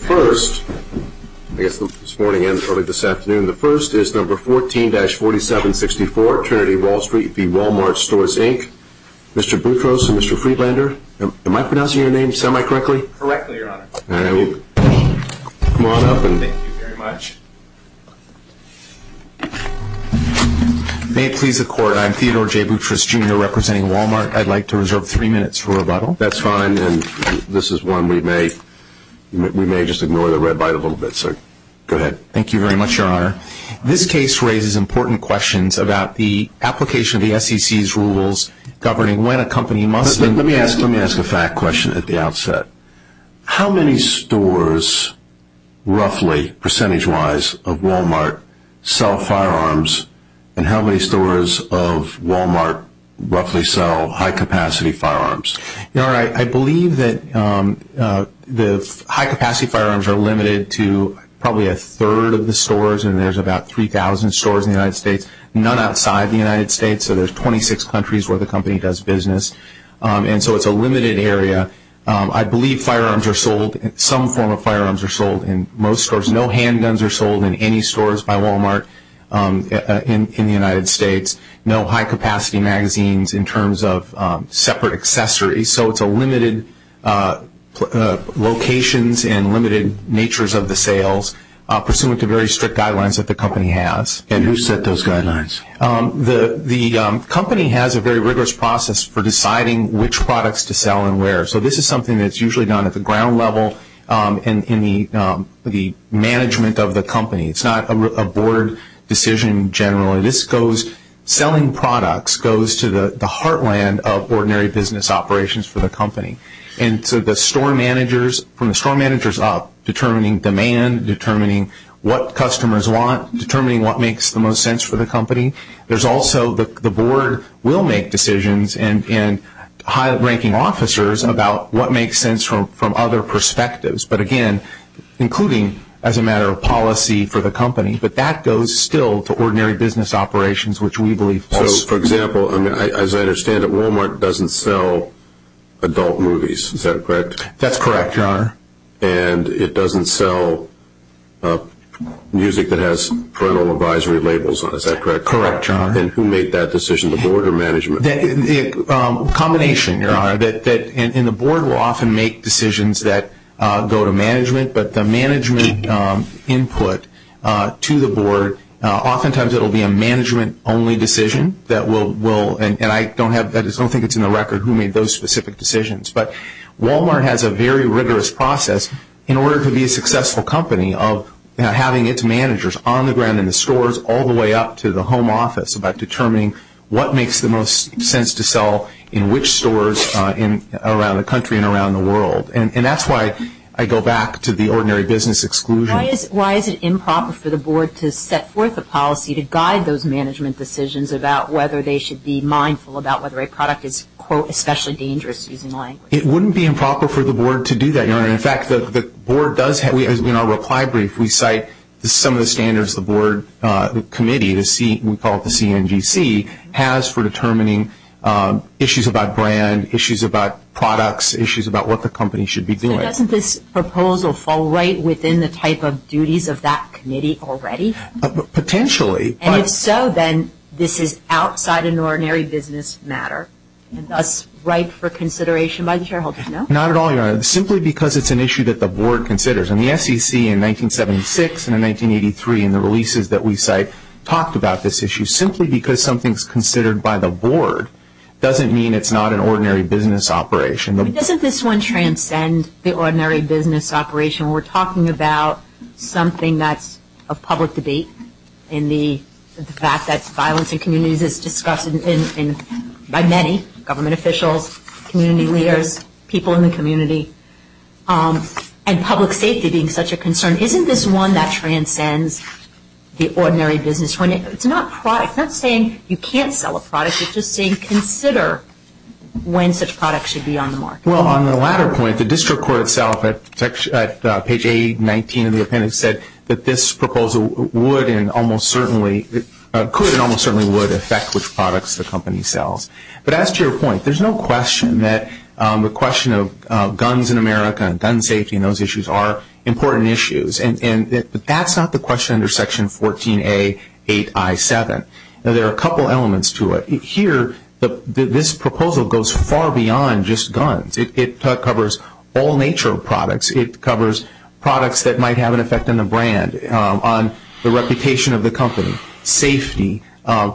First, I guess this morning and early this afternoon, the first is number 14-4764, Trinity Wall Street v. Walmart Stores Inc. Mr. Boutros and Mr. Friedlander, am I pronouncing your name semi-correctly? Correctly, your honor. All right, come on up. Thank you very much. May it please the court, I'm Theodore J. Boutros, Jr., representing Walmart. I'd like to reserve three minutes for rebuttal. That's fine, and this is one we may just ignore the red light a little bit, so go ahead. Thank you very much, your honor. This case raises important questions about the application of the SEC's rules governing when a company must... Let me ask a fact question at the outset. How many stores, roughly, percentage-wise, of Walmart sell firearms, and how many stores of Walmart roughly sell high-capacity firearms? Your honor, I believe that the high-capacity firearms are limited to probably a third of the stores, and there's about 3,000 stores in the United States, none outside the United States, so there's 26 countries where the company does business, and so it's a limited area. I believe firearms are sold, some form of firearms are sold in most stores. No handguns are sold in any stores by Walmart in the United States. No high-capacity magazines in terms of separate accessories, so it's a limited locations and limited natures of the sales, pursuant to very strict guidelines that the company has. And who set those guidelines? The company has a very rigorous process for deciding which products to sell and where, so this is something that's usually done at the ground level and in the management of the company. It's not a board decision generally. This goes, selling products goes to the heartland of ordinary business operations for the company, and so the store managers, from the store managers up, determining demand, determining what customers want, determining what makes the most sense for the company. There's also the board will make decisions and high-ranking officers about what makes sense from other perspectives, but again, including as a matter of policy for the company, but that goes still to ordinary business operations, which we believe falls. So, for example, as I understand it, Walmart doesn't sell adult movies, is that correct? That's correct, Your Honor. And it doesn't sell music that has parental advisory labels on it, is that correct? Correct, Your Honor. And who made that decision, the board or management? A combination, Your Honor, and the board will often make decisions that go to management, but the management input to the board, oftentimes it will be a management-only decision, and I don't think it's in the record who made those specific decisions, but Walmart has a very rigorous process in order to be a successful company, of having its managers on the ground in the stores all the way up to the home office about determining what makes the most sense to sell in which stores around the country and around the world. And that's why I go back to the ordinary business exclusion. Why is it improper for the board to set forth a policy to guide those management decisions about whether they should be mindful about whether a product is, quote, especially dangerous using language? It wouldn't be improper for the board to do that, Your Honor. In fact, the board does have, in our reply brief, we cite some of the standards the board committee, we call it the CNGC, has for determining issues about brand, issues about products, issues about what the company should be doing. So doesn't this proposal fall right within the type of duties of that committee already? Potentially. And if so, then this is outside an ordinary business matter, thus right for consideration by the shareholders, no? Not at all, Your Honor. Simply because it's an issue that the board considers. And the SEC in 1976 and in 1983 in the releases that we cite talked about this issue. Simply because something is considered by the board doesn't mean it's not an ordinary business operation. Doesn't this one transcend the ordinary business operation? We're talking about something that's a public debate in the fact that violence in communities is discussed by many, government officials, community leaders, people in the community, and public safety being such a concern. Isn't this one that transcends the ordinary business? It's not saying you can't sell a product. It's just saying consider when such products should be on the market. Well, on the latter point, the district court itself at page 819 of the appendix said that this proposal would and almost certainly could and almost certainly would affect which products the company sells. But as to your point, there's no question that the question of guns in America and gun safety and those issues are important issues. But that's not the question under section 14A8I7. Now, there are a couple elements to it. Here, this proposal goes far beyond just guns. It covers all nature of products. It covers products that might have an effect on the brand, on the reputation of the company, safety,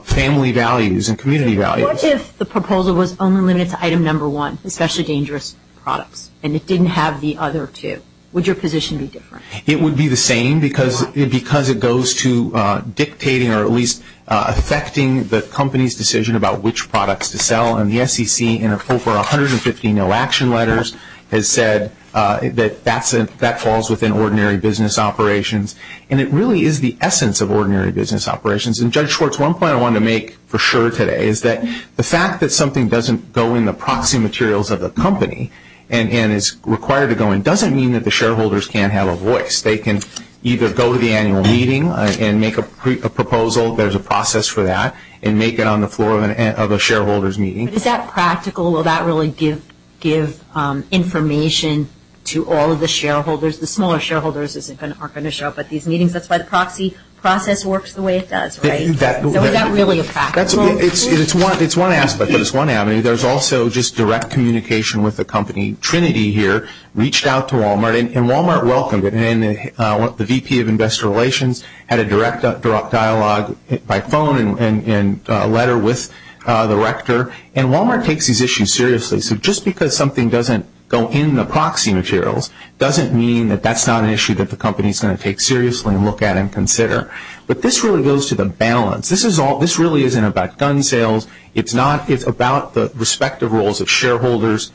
family values, and community values. What if the proposal was only limited to item number one, especially dangerous products, and it didn't have the other two? Would your position be different? It would be the same because it goes to dictating or at least affecting the company's decision about which products to sell. And the SEC in over 150 no action letters has said that that falls within ordinary business operations. And it really is the essence of ordinary business operations. And Judge Schwartz, one point I want to make for sure today is that the fact that something doesn't go in the proxy materials of the company and is required to go in doesn't mean that the shareholders can't have a voice. They can either go to the annual meeting and make a proposal, there's a process for that, and make it on the floor of a shareholder's meeting. But is that practical? Will that really give information to all of the shareholders? The smaller shareholders aren't going to show up at these meetings. That's why the proxy process works the way it does, right? So is that really practical? It's one aspect, but it's one avenue. There's also just direct communication with the company. Trinity here reached out to Walmart, and Walmart welcomed it. And the VP of investor relations had a direct dialogue by phone and letter with the rector. And Walmart takes these issues seriously. So just because something doesn't go in the proxy materials doesn't mean that that's not an issue that the company's going to take seriously and look at and consider. But this really goes to the balance. This really isn't about gun sales. It's about the respective roles of shareholders,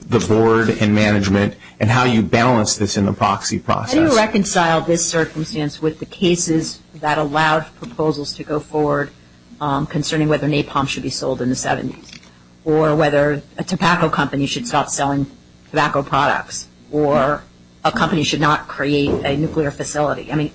the board, and management, and how you balance this in the proxy process. How do you reconcile this circumstance with the cases that allowed proposals to go forward concerning whether napalm should be sold in the 70s, or whether a tobacco company should stop selling tobacco products, or a company should not create a nuclear facility? I mean,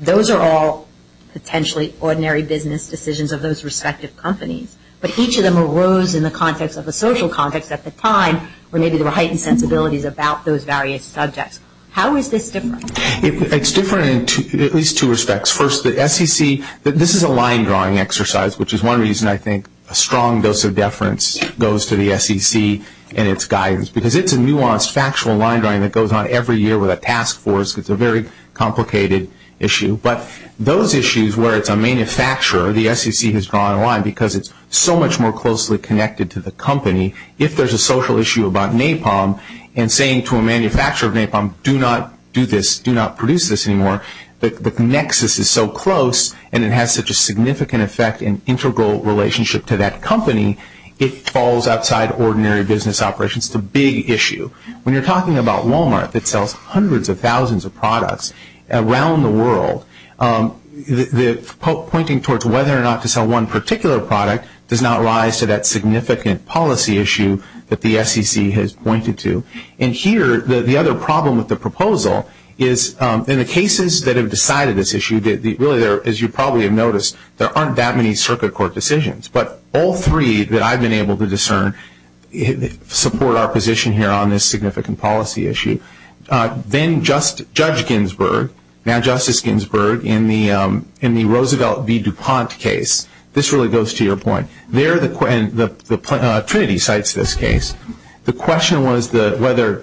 those are all potentially ordinary business decisions of those respective companies, but each of them arose in the context of a social context at the time where maybe there were heightened sensibilities about those various subjects. How is this different? It's different in at least two respects. First, the SEC, this is a line drawing exercise, which is one reason I think a strong dose of deference goes to the SEC and its guidance, because it's a nuanced, factual line drawing that goes on every year with a task force. It's a very complicated issue, but those issues where it's a manufacturer, the SEC has drawn a line because it's so much more closely connected to the company. If there's a social issue about napalm, and saying to a manufacturer of napalm, do not do this, do not produce this anymore, the nexus is so close, and it has such a significant effect and integral relationship to that company, it falls outside ordinary business operations. It's a big issue. When you're talking about Walmart that sells hundreds of thousands of products around the world, pointing towards whether or not to sell one particular product does not rise to that significant policy issue that the SEC has pointed to. And here, the other problem with the proposal is in the cases that have decided this issue, really, as you probably have noticed, there aren't that many circuit court decisions, but all three that I've been able to discern support our position here on this significant policy issue. Then Judge Ginsburg, now Justice Ginsburg, in the Roosevelt v. DuPont case, this really goes to your point, Trinity cites this case, the question was whether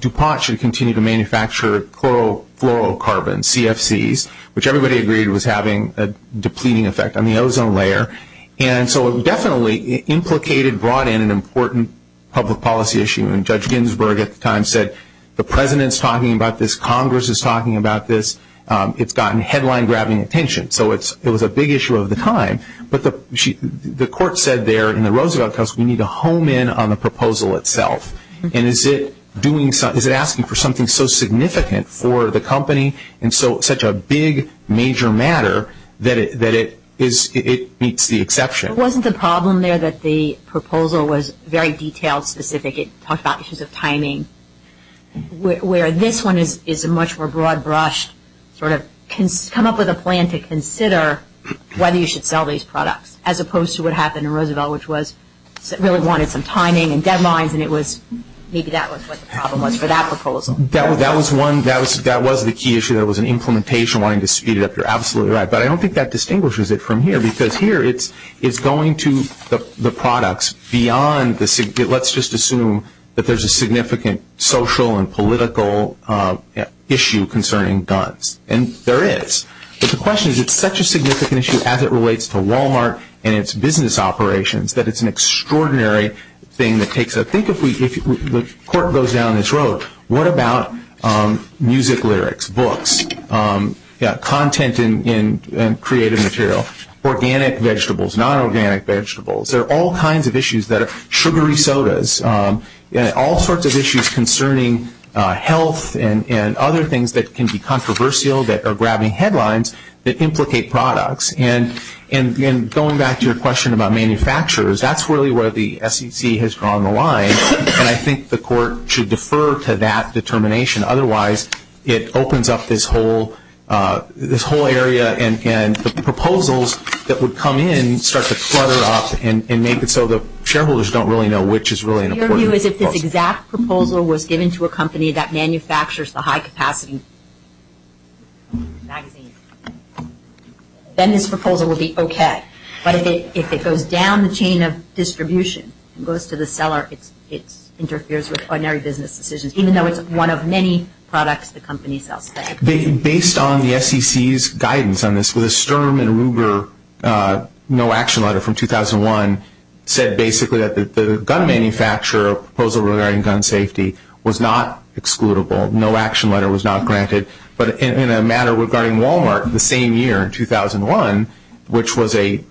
DuPont should continue to manufacture chlorofluorocarbons, CFCs, which everybody agreed was having a depleting effect on the ozone layer, and so it definitely implicated, brought in an important public policy issue, and Judge Ginsburg at the time said, the President's talking about this, Congress is talking about this, it's gotten headline-grabbing attention. So it was a big issue of the time, but the court said there in the Roosevelt case, we need to home in on the proposal itself, and is it asking for something so significant for the company and so such a big, major matter that it meets the exception. Wasn't the problem there that the proposal was very detailed, specific, it talked about issues of timing, where this one is a much more broad-brushed, sort of come up with a plan to consider whether you should sell these products, as opposed to what happened in Roosevelt, which was really wanted some timing and deadlines, and maybe that was what the problem was for that proposal. That was one, that was the key issue, that was an implementation, wanting to speed it up, you're absolutely right, but I don't think that distinguishes it from here, because here it's going to the products beyond, let's just assume that there's a significant social and political issue concerning guns, and there is. But the question is, it's such a significant issue as it relates to Walmart and its business operations, that it's an extraordinary thing that takes, I think if the court goes down this road, what about music lyrics, books, content in creative material, organic vegetables, non-organic vegetables, there are all kinds of issues that are, sugary sodas, all sorts of issues concerning health and other things that can be controversial, that are grabbing headlines, that implicate products. And going back to your question about manufacturers, that's really where the SEC has drawn the line, and I think the court should defer to that determination. Otherwise, it opens up this whole area, and the proposals that would come in start to clutter up, and make it so the shareholders don't really know which is really an important proposal. Your view is if this exact proposal was given to a company that manufactures the high-capacity magazines, then this proposal would be okay. But if it goes down the chain of distribution and goes to the seller, it interferes with ordinary business decisions, even though it's one of many products the company sells today. Based on the SEC's guidance on this, the Sturm and Ruger no-action letter from 2001 said basically that the gun manufacturer proposal regarding gun safety was not excludable. No-action letter was not granted. But in a matter regarding Wal-Mart the same year, 2001, which was a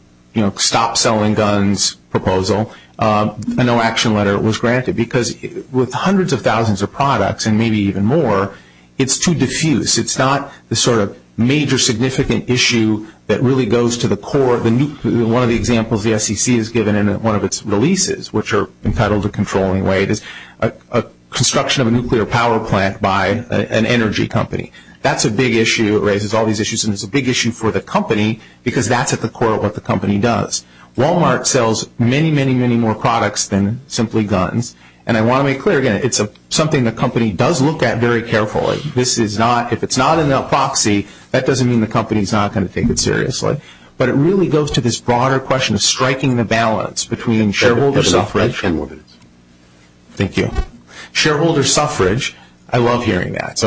stop-selling-guns proposal, a no-action letter was granted. Because with hundreds of thousands of products, and maybe even more, it's too diffuse. It's not the sort of major significant issue that really goes to the core. One of the examples the SEC has given in one of its releases, which are entitled to controlling weight, is a construction of a nuclear power plant by an energy company. That's a big issue. It raises all these issues. And it's a big issue for the company because that's at the core of what the company does. Wal-Mart sells many, many, many more products than simply guns. And I want to make clear, again, it's something the company does look at very carefully. If it's not in their proxy, that doesn't mean the company is not going to take it seriously. But it really goes to this broader question of striking the balance between shareholder suffrage. Thank you. Shareholder suffrage, I love hearing that.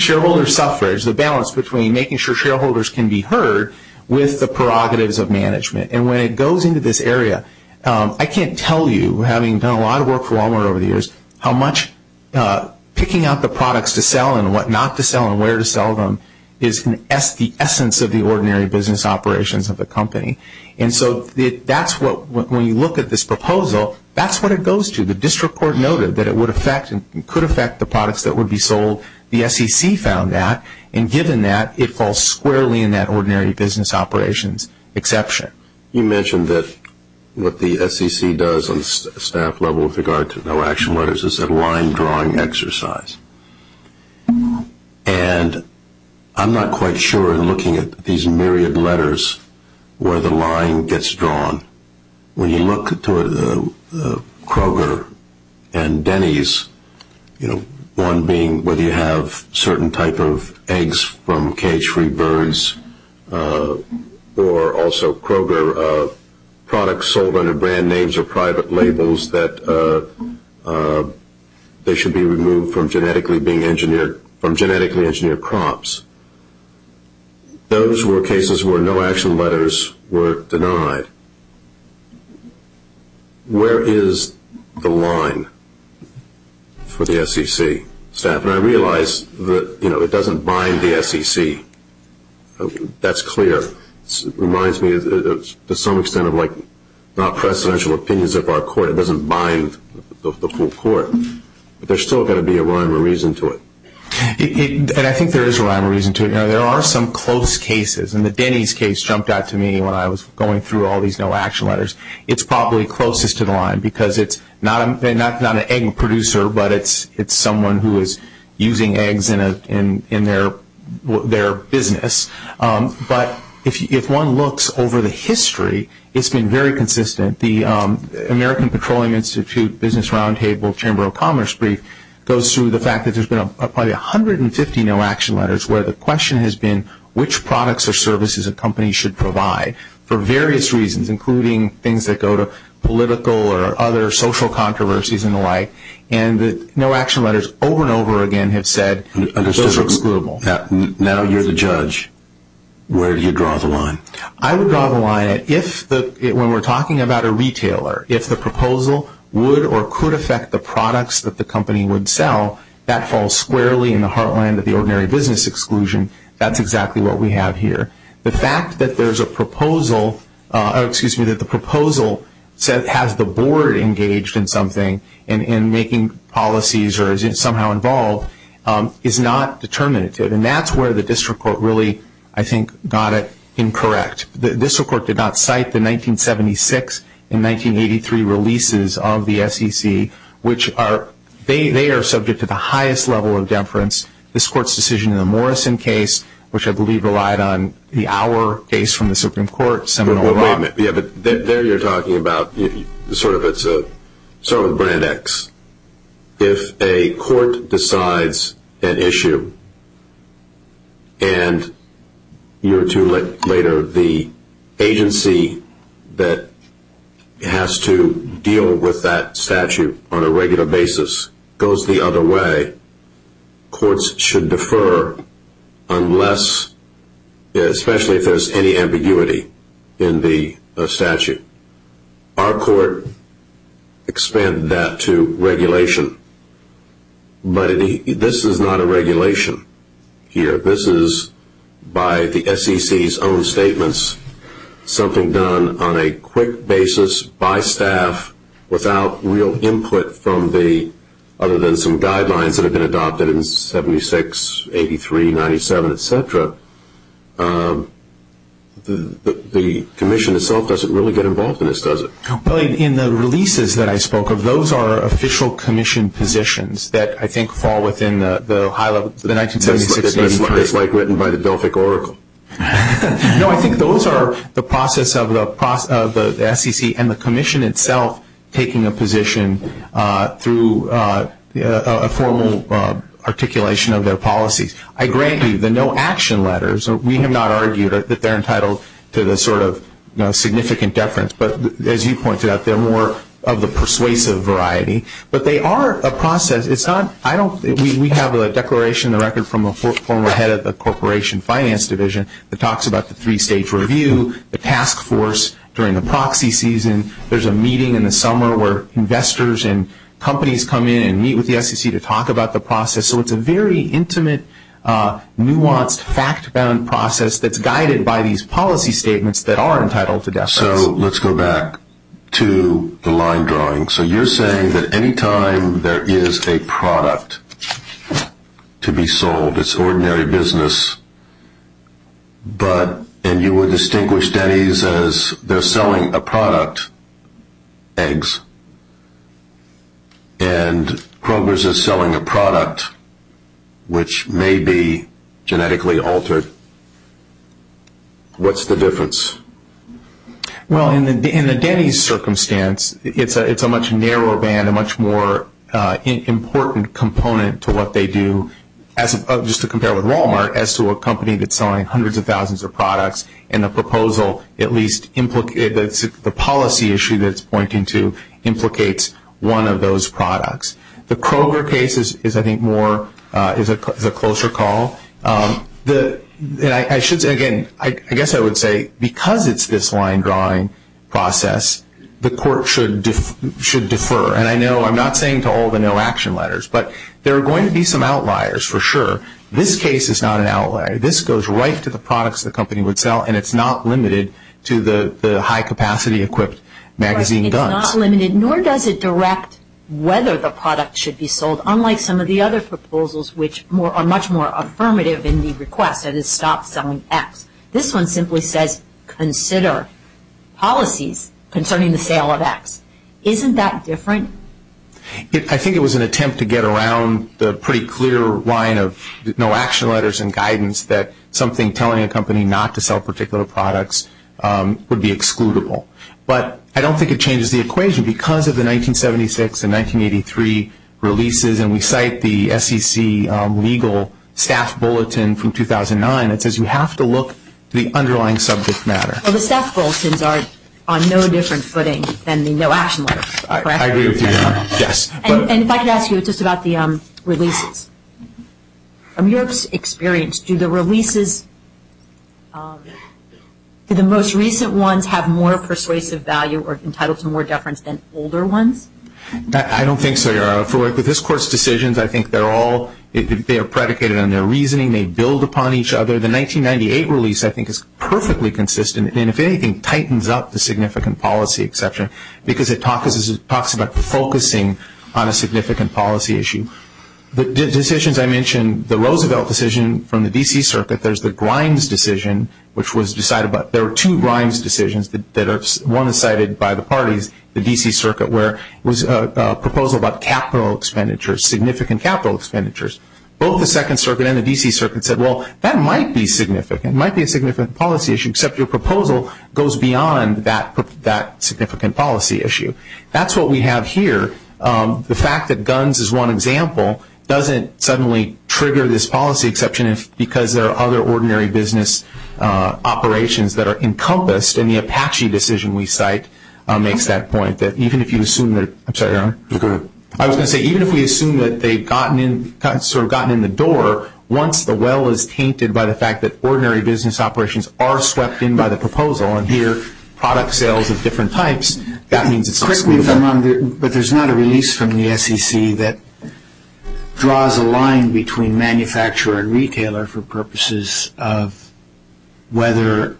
Shareholder suffrage, the balance between making sure shareholders can be heard with the prerogatives of management. And when it goes into this area, I can't tell you, having done a lot of work for Wal-Mart over the years, how much picking out the products to sell and what not to sell and where to sell them is the essence of the ordinary business operations of the company. And so that's what, when you look at this proposal, that's what it goes to. The district court noted that it would affect and could affect the products that would be sold. The SEC found that. And given that, it falls squarely in that ordinary business operations exception. You mentioned that what the SEC does on the staff level with regard to no-action letters is a line-drawing exercise. And I'm not quite sure in looking at these myriad letters where the line gets drawn. When you look to Kroger and Denny's, one being whether you have certain type of eggs from cage-free birds or also Kroger products sold under brand names or private labels that they should be removed from genetically engineered crops. Those were cases where no-action letters were denied. Where is the line for the SEC staff? And I realize that it doesn't bind the SEC. That's clear. It reminds me to some extent of not precedential opinions of our court. It doesn't bind the full court. But there's still got to be a rhyme or reason to it. And I think there is a rhyme or reason to it. There are some close cases. And the Denny's case jumped out to me when I was going through all these no-action letters. It's probably closest to the line because it's not an egg producer, but it's someone who is using eggs in their business. But if one looks over the history, it's been very consistent. The American Petroleum Institute Business Roundtable Chamber of Commerce brief goes through the fact that there's been probably 150 no-action letters where the question has been which products or services a company should provide for various reasons, including things that go to political or other social controversies and the like. And the no-action letters over and over again have said those are excludable. Now you're the judge. Where do you draw the line? I would draw the line if when we're talking about a retailer, if the proposal would or could affect the products that the company would sell, that falls squarely in the heartland of the ordinary business exclusion. That's exactly what we have here. The fact that there's a proposal, excuse me, that the proposal has the board engaged in something and making policies or is somehow involved is not determinative. And that's where the district court really, I think, got it incorrect. The district court did not cite the 1976 and 1983 releases of the SEC, which they are subject to the highest level of deference. This court's decision in the Morrison case, which I believe relied on the Auer case from the Supreme Court. Wait a minute. There you're talking about sort of a brand X. If a court decides an issue and a year or two later the agency that has to deal with that statute on a regular basis goes the other way, courts should defer unless, especially if there's any ambiguity in the statute. Our court expanded that to regulation. But this is not a regulation here. This is by the SEC's own statements something done on a quick basis by staff without real input from the, other than some guidelines that have been adopted in 76, 83, 97, et cetera. The commission itself doesn't really get involved in this, does it? In the releases that I spoke of, those are official commission positions that I think fall within the 1976, 83. It's like written by the Delphic Oracle. No, I think those are the process of the SEC and the commission itself taking a position through a formal articulation of their policies. I grant you the no action letters, we have not argued that they're entitled to the sort of significant deference, but as you pointed out, they're more of the persuasive variety. But they are a process. We have a declaration in the record from a former head of the Corporation Finance Division that talks about the three-stage review, the task force during the proxy season. There's a meeting in the summer where investors and companies come in and meet with the SEC to talk about the process. So it's a very intimate, nuanced, fact-bound process that's guided by these policy statements that are entitled to deference. So let's go back to the line drawing. So you're saying that any time there is a product to be sold, it's ordinary business, and you would distinguish Denny's as they're selling a product, eggs, and Kroger's is selling a product which may be genetically altered, what's the difference? Well, in the Denny's circumstance, it's a much narrower band, a much more important component to what they do, just to compare with Walmart, as to a company that's selling hundreds of thousands of products, and the policy issue that it's pointing to implicates one of those products. The Kroger case is, I think, a closer call. Again, I guess I would say because it's this line drawing process, the court should defer. And I know I'm not saying to all the no-action letters, but there are going to be some outliers for sure. This case is not an outlier. This goes right to the products the company would sell, and it's not limited to the high-capacity equipped magazine guns. It's not limited, nor does it direct whether the product should be sold, unlike some of the other proposals which are much more affirmative in the request, that is, stop selling X. This one simply says consider policies concerning the sale of X. Isn't that different? I think it was an attempt to get around the pretty clear line of no-action letters and guidance that something telling a company not to sell particular products would be excludable. But I don't think it changes the equation. Because of the 1976 and 1983 releases, and we cite the SEC legal staff bulletin from 2009, it says you have to look to the underlying subject matter. Well, the staff bulletins are on no different footing than the no-action letters, correct? I agree with you, yes. And if I could ask you just about the releases. From your experience, do the releases, do the most recent ones have more persuasive value or entitle to more deference than older ones? I don't think so, Your Honor. For this Court's decisions, I think they're all predicated on their reasoning. They build upon each other. The 1998 release I think is perfectly consistent, and if anything, tightens up the significant policy exception because it talks about focusing on a significant policy issue. The decisions I mentioned, the Roosevelt decision from the D.C. Circuit, there's the Grimes decision, there are two Grimes decisions. One is cited by the parties, the D.C. Circuit, where it was a proposal about capital expenditures, significant capital expenditures. Both the Second Circuit and the D.C. Circuit said, well, that might be significant. It might be a significant policy issue, except your proposal goes beyond that significant policy issue. That's what we have here. The fact that guns is one example doesn't suddenly trigger this policy exception because there are other ordinary business operations that are encompassed, and the Apache decision we cite makes that point. I'm sorry, Your Honor. Go ahead. I was going to say, even if we assume that they've gotten in the door, once the well is tainted by the fact that ordinary business operations are swept in by the proposal, and here, product sales of different types, that means it's possible. But there's not a release from the SEC that draws a line between manufacturer and retailer for purposes of whether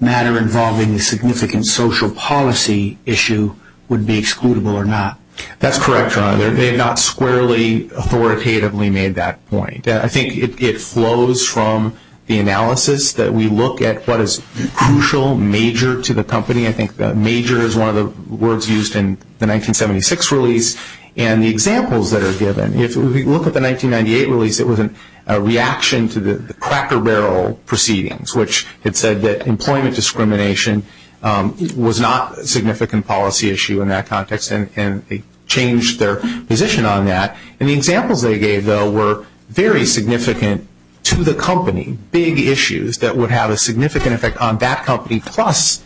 matter involving the significant social policy issue would be excludable or not. That's correct, Your Honor. They have not squarely authoritatively made that point. I think it flows from the analysis that we look at what is crucial, major to the company. I think major is one of the words used in the 1976 release. And the examples that are given, if we look at the 1998 release, it was a reaction to the Cracker Barrel proceedings, which had said that employment discrimination was not a significant policy issue in that context, and they changed their position on that. And the examples they gave, though, were very significant to the company, big issues that would have a significant effect on that company, plus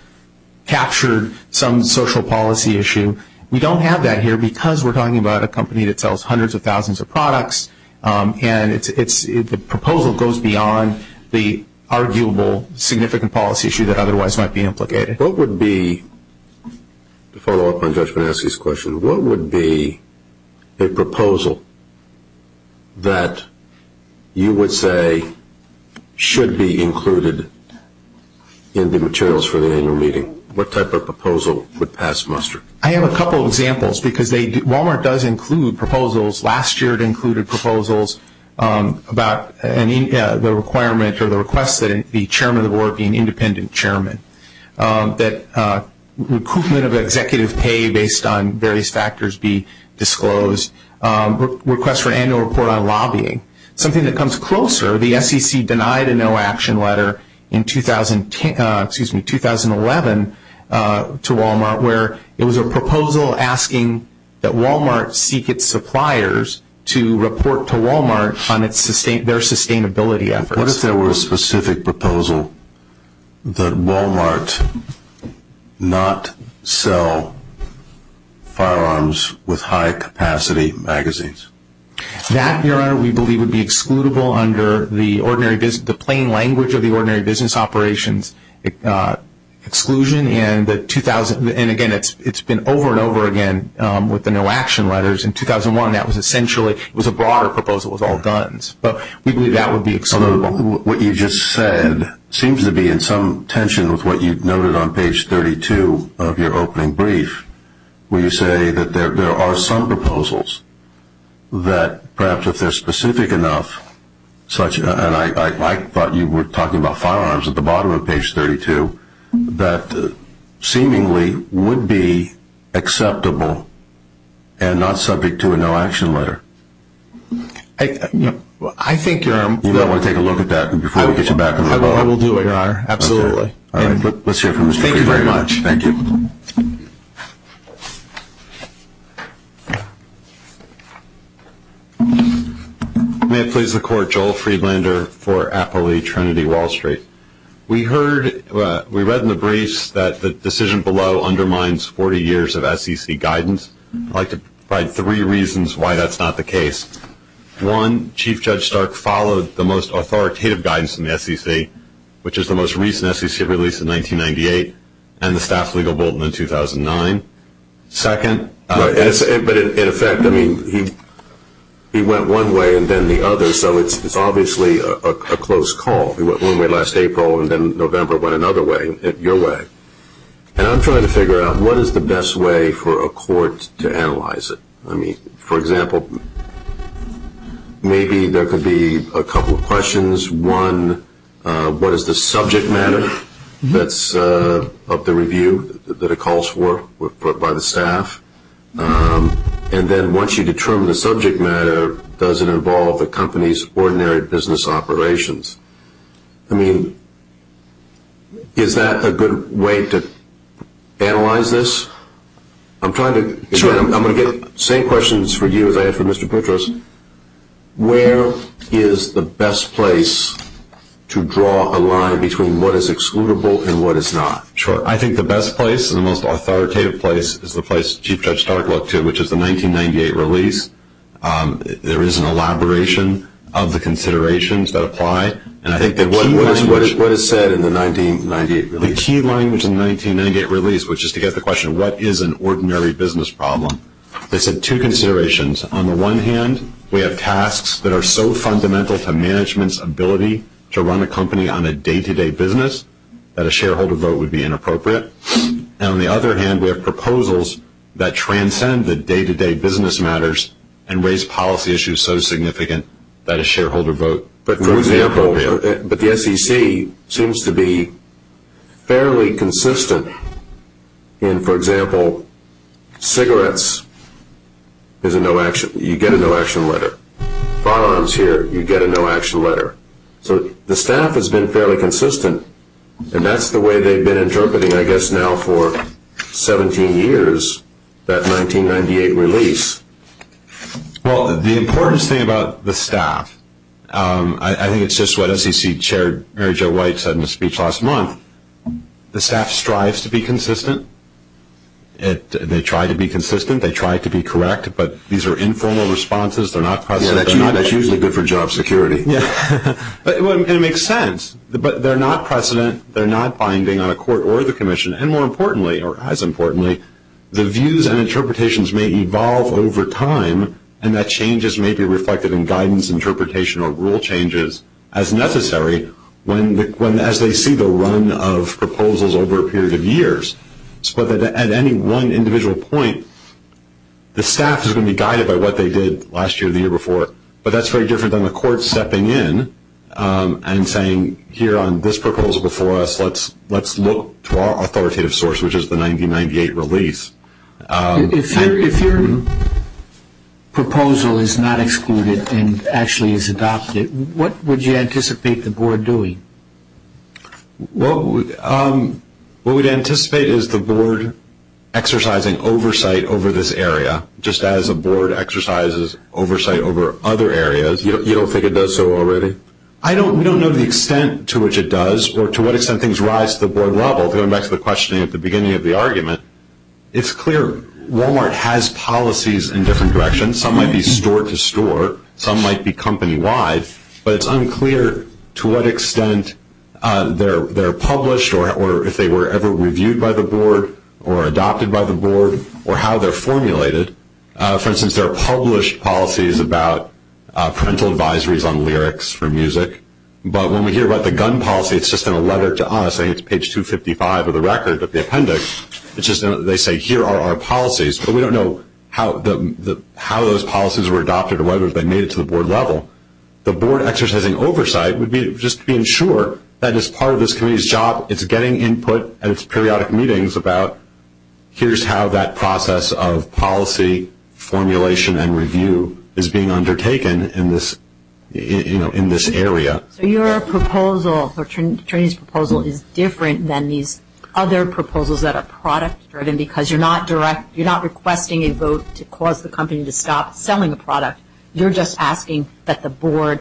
captured some social policy issue. We don't have that here because we're talking about a company that sells hundreds of thousands of products, and the proposal goes beyond the arguable significant policy issue that otherwise might be implicated. What would be, to follow up on Judge Bonaski's question, what would be a proposal that you would say should be included in the materials for the annual meeting? What type of proposal would pass muster? I have a couple of examples because Walmart does include proposals. Last year it included proposals about the requirement or the request that the chairman of the board be an independent chairman, that recruitment of executive pay based on various factors be disclosed, requests for annual report on lobbying. Something that comes closer, the SEC denied a no action letter in 2011 to Walmart, where it was a proposal asking that Walmart seek its suppliers to report to Walmart on their sustainability efforts. What if there were a specific proposal that Walmart not sell firearms with high capacity magazines? That, Your Honor, we believe would be excludable under the plain language of the ordinary business operations exclusion, and again, it's been over and over again with the no action letters. In 2001 that was essentially, it was a broader proposal with all guns, but we believe that would be excludable. What you just said seems to be in some tension with what you noted on page 32 of your opening brief, where you say that there are some proposals that perhaps if they're specific enough, and I thought you were talking about firearms at the bottom of page 32, that seemingly would be acceptable and not subject to a no action letter. I think, Your Honor. You might want to take a look at that before we get you back on the floor. I will do, Your Honor, absolutely. All right, let's hear from Mr. Brady. Thank you very much. Thank you. Thank you. May it please the Court, Joel Friedlander for Appley Trinity Wall Street. We read in the briefs that the decision below undermines 40 years of SEC guidance. I'd like to provide three reasons why that's not the case. One, Chief Judge Stark followed the most authoritative guidance in the SEC, which is the most recent SEC release in 1998 and the Staff Legal Bulletin in 2009. Second. But in effect, I mean, he went one way and then the other, so it's obviously a close call. He went one way last April and then November went another way, your way. And I'm trying to figure out what is the best way for a court to analyze it. I mean, for example, maybe there could be a couple of questions. One, what is the subject matter of the review that it calls for by the staff? And then once you determine the subject matter, does it involve the company's ordinary business operations? I mean, is that a good way to analyze this? I'm trying to get the same questions for you as I had for Mr. Petros. Where is the best place to draw a line between what is excludable and what is not? Sure. I think the best place and the most authoritative place is the place Chief Judge Stark looked to, which is the 1998 release. There is an elaboration of the considerations that apply. What is said in the 1998 release? The key language in the 1998 release, which is to get the question, what is an ordinary business problem? They said two considerations. On the one hand, we have tasks that are so fundamental to management's ability to run a company on a day-to-day business that a shareholder vote would be inappropriate. And on the other hand, we have proposals that transcend the day-to-day business matters and raise policy issues so significant that a shareholder vote would be inappropriate. But the SEC seems to be fairly consistent. For example, cigarettes, you get a no-action letter. Firearms here, you get a no-action letter. So the staff has been fairly consistent, and that's the way they've been interpreting, I guess now for 17 years, that 1998 release. Well, the important thing about the staff, I think it's just what SEC Chair Mary Jo White said in a speech last month. The staff strives to be consistent. They try to be consistent. They try to be correct. But these are informal responses. They're not precedent. That's usually good for job security. It makes sense. But they're not precedent. They're not binding on a court or the commission. And more importantly, or as importantly, the views and interpretations may evolve over time, and that changes may be reflected in guidance, interpretation, or rule changes as necessary as they see the run of proposals over a period of years. But at any one individual point, the staff is going to be guided by what they did last year or the year before. But that's very different than the court stepping in and saying, here on this proposal before us, let's look to our authoritative source, which is the 1998 release. If your proposal is not excluded and actually is adopted, what would you anticipate the board doing? What we'd anticipate is the board exercising oversight over this area, just as a board exercises oversight over other areas. You don't think it does so already? We don't know the extent to which it does or to what extent things rise to the board level, going back to the questioning at the beginning of the argument. It's clear Walmart has policies in different directions. Some might be store to store. Some might be company-wide. But it's unclear to what extent they're published or if they were ever reviewed by the board or adopted by the board or how they're formulated. For instance, there are published policies about parental advisories on lyrics for music. But when we hear about the gun policy, it's just in a letter to us. I think it's page 255 of the record of the appendix. It's just they say, here are our policies. But we don't know how those policies were adopted or whether they made it to the board level. The board exercising oversight would be just being sure that as part of this committee's job, it's getting input at its periodic meetings about, here's how that process of policy formulation and review is being undertaken in this area. So your proposal, or Trini's proposal, is different than these other proposals that are product-driven because you're not requesting a vote to cause the company to stop selling a product. You're just asking that the board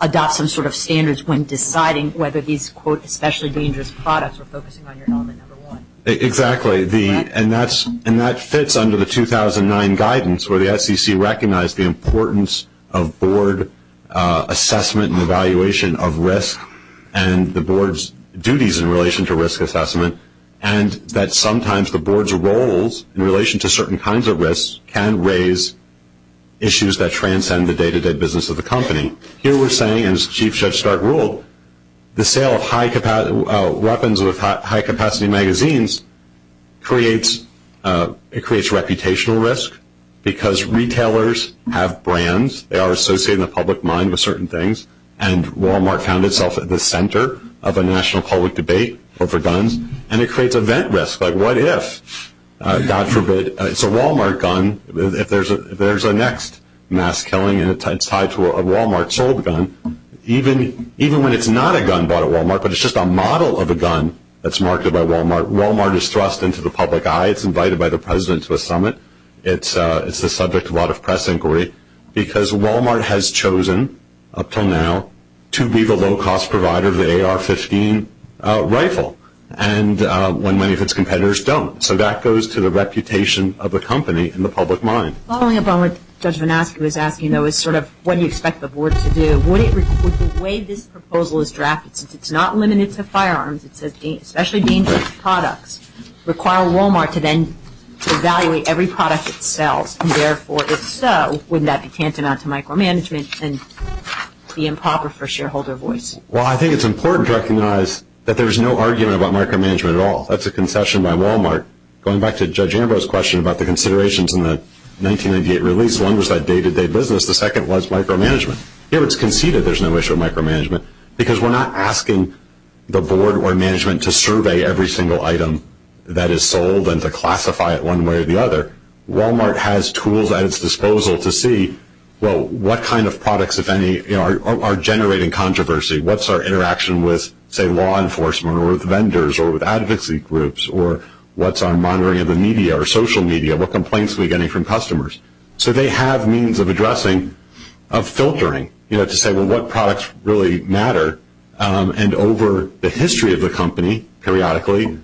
adopt some sort of standards when deciding whether these, quote, especially dangerous products are focusing on your element number one. Exactly. And that fits under the 2009 guidance where the SEC recognized the importance of board assessment and evaluation of risk and the board's duties in relation to risk assessment and that sometimes the board's roles in relation to certain kinds of risks can raise issues that transcend the day-to-day business of the company. Here we're saying, as Chief Judge Stark ruled, the sale of weapons with high-capacity magazines creates reputational risk because retailers have brands, they are associated in the public mind with certain things, and Walmart found itself at the center of a national public debate over guns, and it creates event risk, like what if, God forbid, it's a Walmart gun, if there's a next mass killing and it's tied to a Walmart sold gun, even when it's not a gun bought at Walmart but it's just a model of a gun that's marketed by Walmart, Walmart is thrust into the public eye. It's invited by the president to a summit. It's the subject of a lot of press inquiry because Walmart has chosen up until now to be the low-cost provider of the AR-15 rifle when many of its competitors don't. So that goes to the reputation of the company in the public mind. Following up on what Judge Vannaschi was asking, though, is sort of what do you expect the board to do? Would the way this proposal is drafted, since it's not limited to firearms, it says especially dangerous products, require Walmart to then evaluate every product it sells, and therefore, if so, wouldn't that be tantamount to micromanagement and be improper for shareholder voice? Well, I think it's important to recognize that there's no argument about micromanagement at all. That's a concession by Walmart. Going back to Judge Ambrose's question about the considerations in the 1998 release, one was that day-to-day business, the second was micromanagement. Here it's conceded there's no issue with micromanagement because we're not asking the board or management to survey every single item that is sold and to classify it one way or the other. Walmart has tools at its disposal to see, well, what kind of products, if any, are generating controversy? What's our interaction with, say, law enforcement or with vendors or with advocacy groups? Or what's our monitoring of the media or social media? What complaints are we getting from customers? So they have means of addressing, of filtering, you know, to say, well, what products really matter? And over the history of the company, periodically,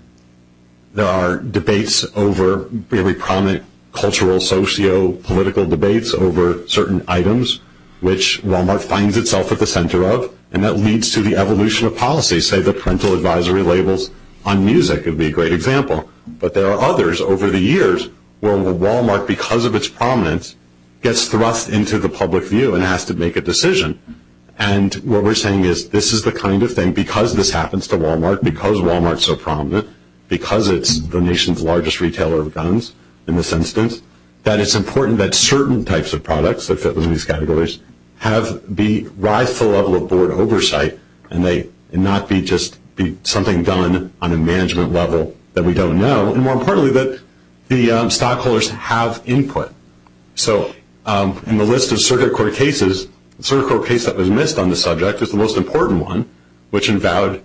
there are debates over really prominent cultural, socio-political debates over certain items, which Walmart finds itself at the center of, and that leads to the evolution of policy. Say, the parental advisory labels on music would be a great example. But there are others over the years where Walmart, because of its prominence, gets thrust into the public view and has to make a decision. And what we're saying is this is the kind of thing, because this happens to Walmart, because Walmart's so prominent, because it's the nation's largest retailer of guns in this instance, that it's important that certain types of products that fit within these categories have the right level of board oversight and not be just something done on a management level that we don't know, and more importantly, that the stockholders have input. So in the list of circuit court cases, the circuit court case that was missed on the subject is the most important one, which involved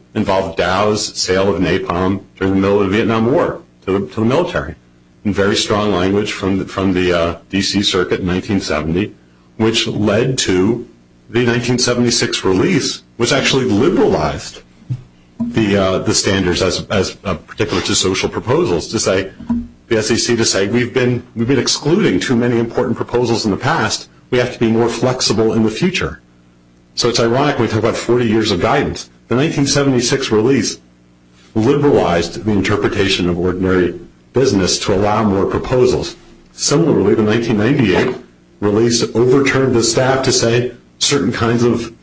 Dow's sale of napalm during the middle of the Vietnam War to the military. Very strong language from the D.C. circuit in 1970, which led to the 1976 release, which actually liberalized the standards as particular to social proposals, the SEC to say we've been excluding too many important proposals in the past. We have to be more flexible in the future. So it's ironic when we talk about 40 years of guidance. The 1976 release liberalized the interpretation of ordinary business to allow more proposals. Similarly, the 1998 release overturned the staff to say certain kinds of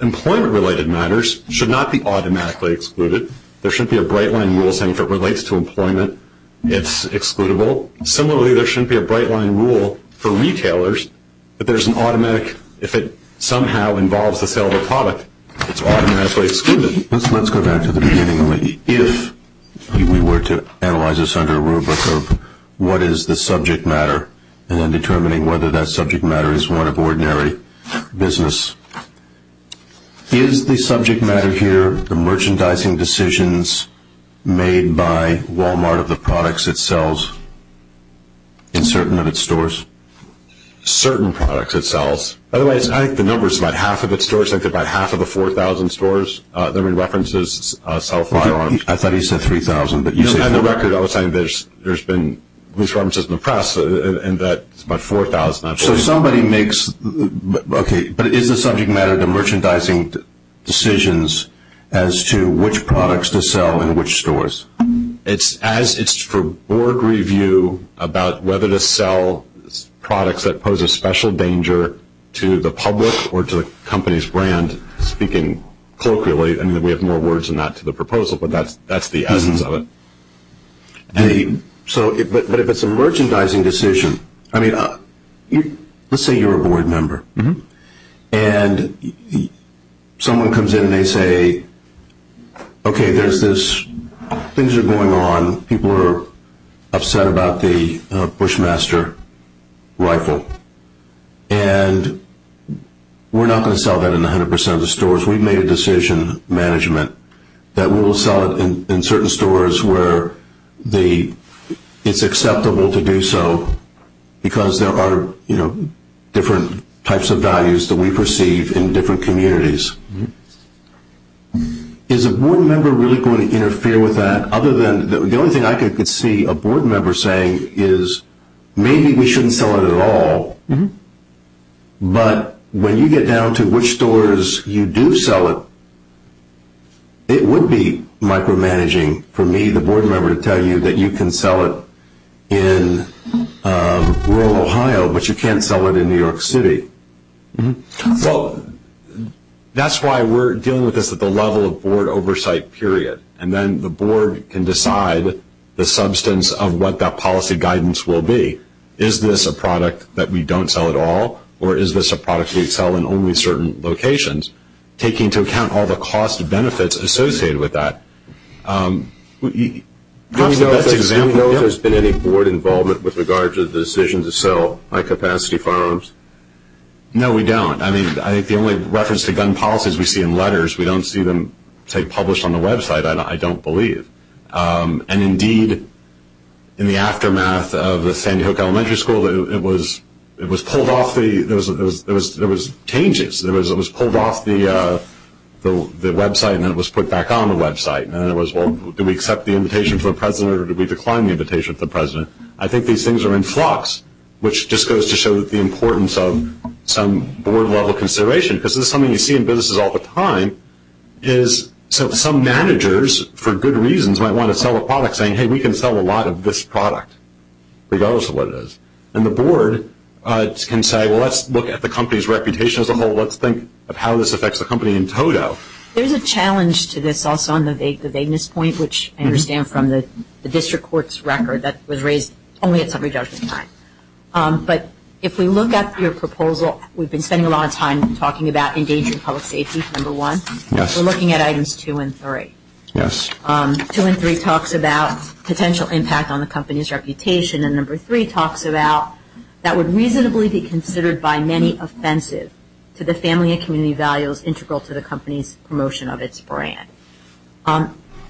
employment-related matters should not be automatically excluded. There shouldn't be a bright-line rule saying if it relates to employment, it's excludable. Similarly, there shouldn't be a bright-line rule for retailers that there's an automatic, if it somehow involves the sale of a product, it's automatically excluded. Let's go back to the beginning. If we were to analyze this under a rubric of what is the subject matter and then determining whether that subject matter is one of ordinary business, is the subject matter here the merchandising decisions made by Walmart of the products it sells in certain of its stores? By the way, I think the number is about half of its stores. I think they're about half of the 4,000 stores that we referenced so far. I thought he said 3,000, but you said 4,000. No, on the record, I was saying there's been loose references in the press and that's about 4,000. So somebody makes, okay, but is the subject matter the merchandising decisions as to which products to sell in which stores? It's for board review about whether to sell products that pose a special danger to the public or to the company's brand, speaking colloquially. I mean, we have more words than that to the proposal, but that's the essence of it. But if it's a merchandising decision, I mean, let's say you're a board member, and someone comes in and they say, okay, things are going on. People are upset about the Bushmaster rifle, and we're not going to sell that in 100% of the stores. We've made a decision, management, that we will sell it in certain stores where it's acceptable to do so because there are different types of values that we perceive in different communities. Is a board member really going to interfere with that? The only thing I could see a board member saying is maybe we shouldn't sell it at all, but when you get down to which stores you do sell it, it would be micromanaging for me, that you can sell it in rural Ohio, but you can't sell it in New York City. Well, that's why we're dealing with this at the level of board oversight period, and then the board can decide the substance of what that policy guidance will be. Is this a product that we don't sell at all, or is this a product we sell in only certain locations, taking into account all the cost and benefits associated with that? Do we know if there's been any board involvement with regards to the decision to sell high-capacity firearms? No, we don't. I mean, I think the only reference to gun policies we see in letters, we don't see them, say, published on the website, I don't believe. And, indeed, in the aftermath of the Sandy Hook Elementary School, it was pulled off. There was changes. It was pulled off the website, and then it was put back on the website. And then it was, well, did we accept the invitation from the president, or did we decline the invitation from the president? I think these things are in flux, which just goes to show the importance of some board-level consideration, because this is something you see in businesses all the time, is some managers, for good reasons, might want to sell a product saying, hey, we can sell a lot of this product, regardless of what it is. And the board can say, well, let's look at the company's reputation as a whole. Let's think of how this affects the company in total. There's a challenge to this also on the vagueness point, which I understand from the district court's record that was raised only at summary judgment time. But if we look at your proposal, we've been spending a lot of time talking about engaging public safety, number one. Yes. We're looking at items two and three. Yes. Two and three talks about potential impact on the company's reputation, and number three talks about that would reasonably be considered by many offensive to the family and community values integral to the company's promotion of its brand.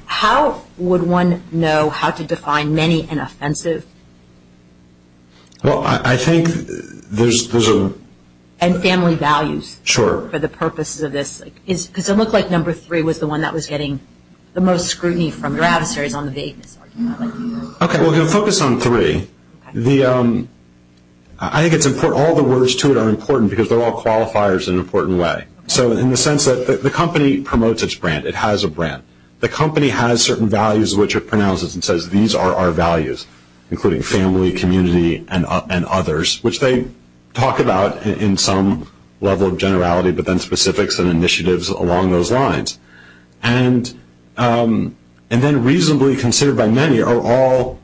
How would one know how to define many and offensive? Well, I think there's a – And family values. Sure. For the purposes of this, because it looked like number three was the one that was getting the most scrutiny from your adversaries on the vagueness argument. Okay. Well, we're going to focus on three. I think all the words to it are important because they're all qualifiers in an important way. So in the sense that the company promotes its brand, it has a brand. The company has certain values which it pronounces and says, these are our values, including family, community, and others, which they talk about in some level of generality, but then specifics and initiatives along those lines. And then reasonably considered by many are all,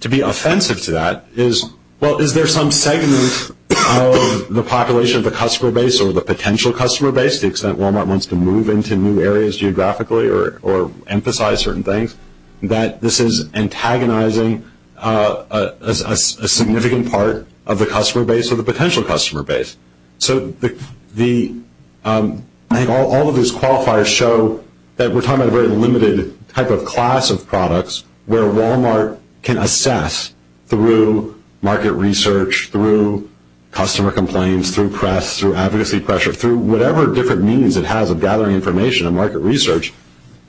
to be offensive to that, is, well, is there some segment of the population of the customer base or the potential customer base, because Walmart wants to move into new areas geographically or emphasize certain things, that this is antagonizing a significant part of the customer base or the potential customer base. So I think all of those qualifiers show that we're talking about a very limited type of class of products where Walmart can assess through market research, through customer complaints, through press, through advocacy pressure, through whatever different means it has of gathering information and market research.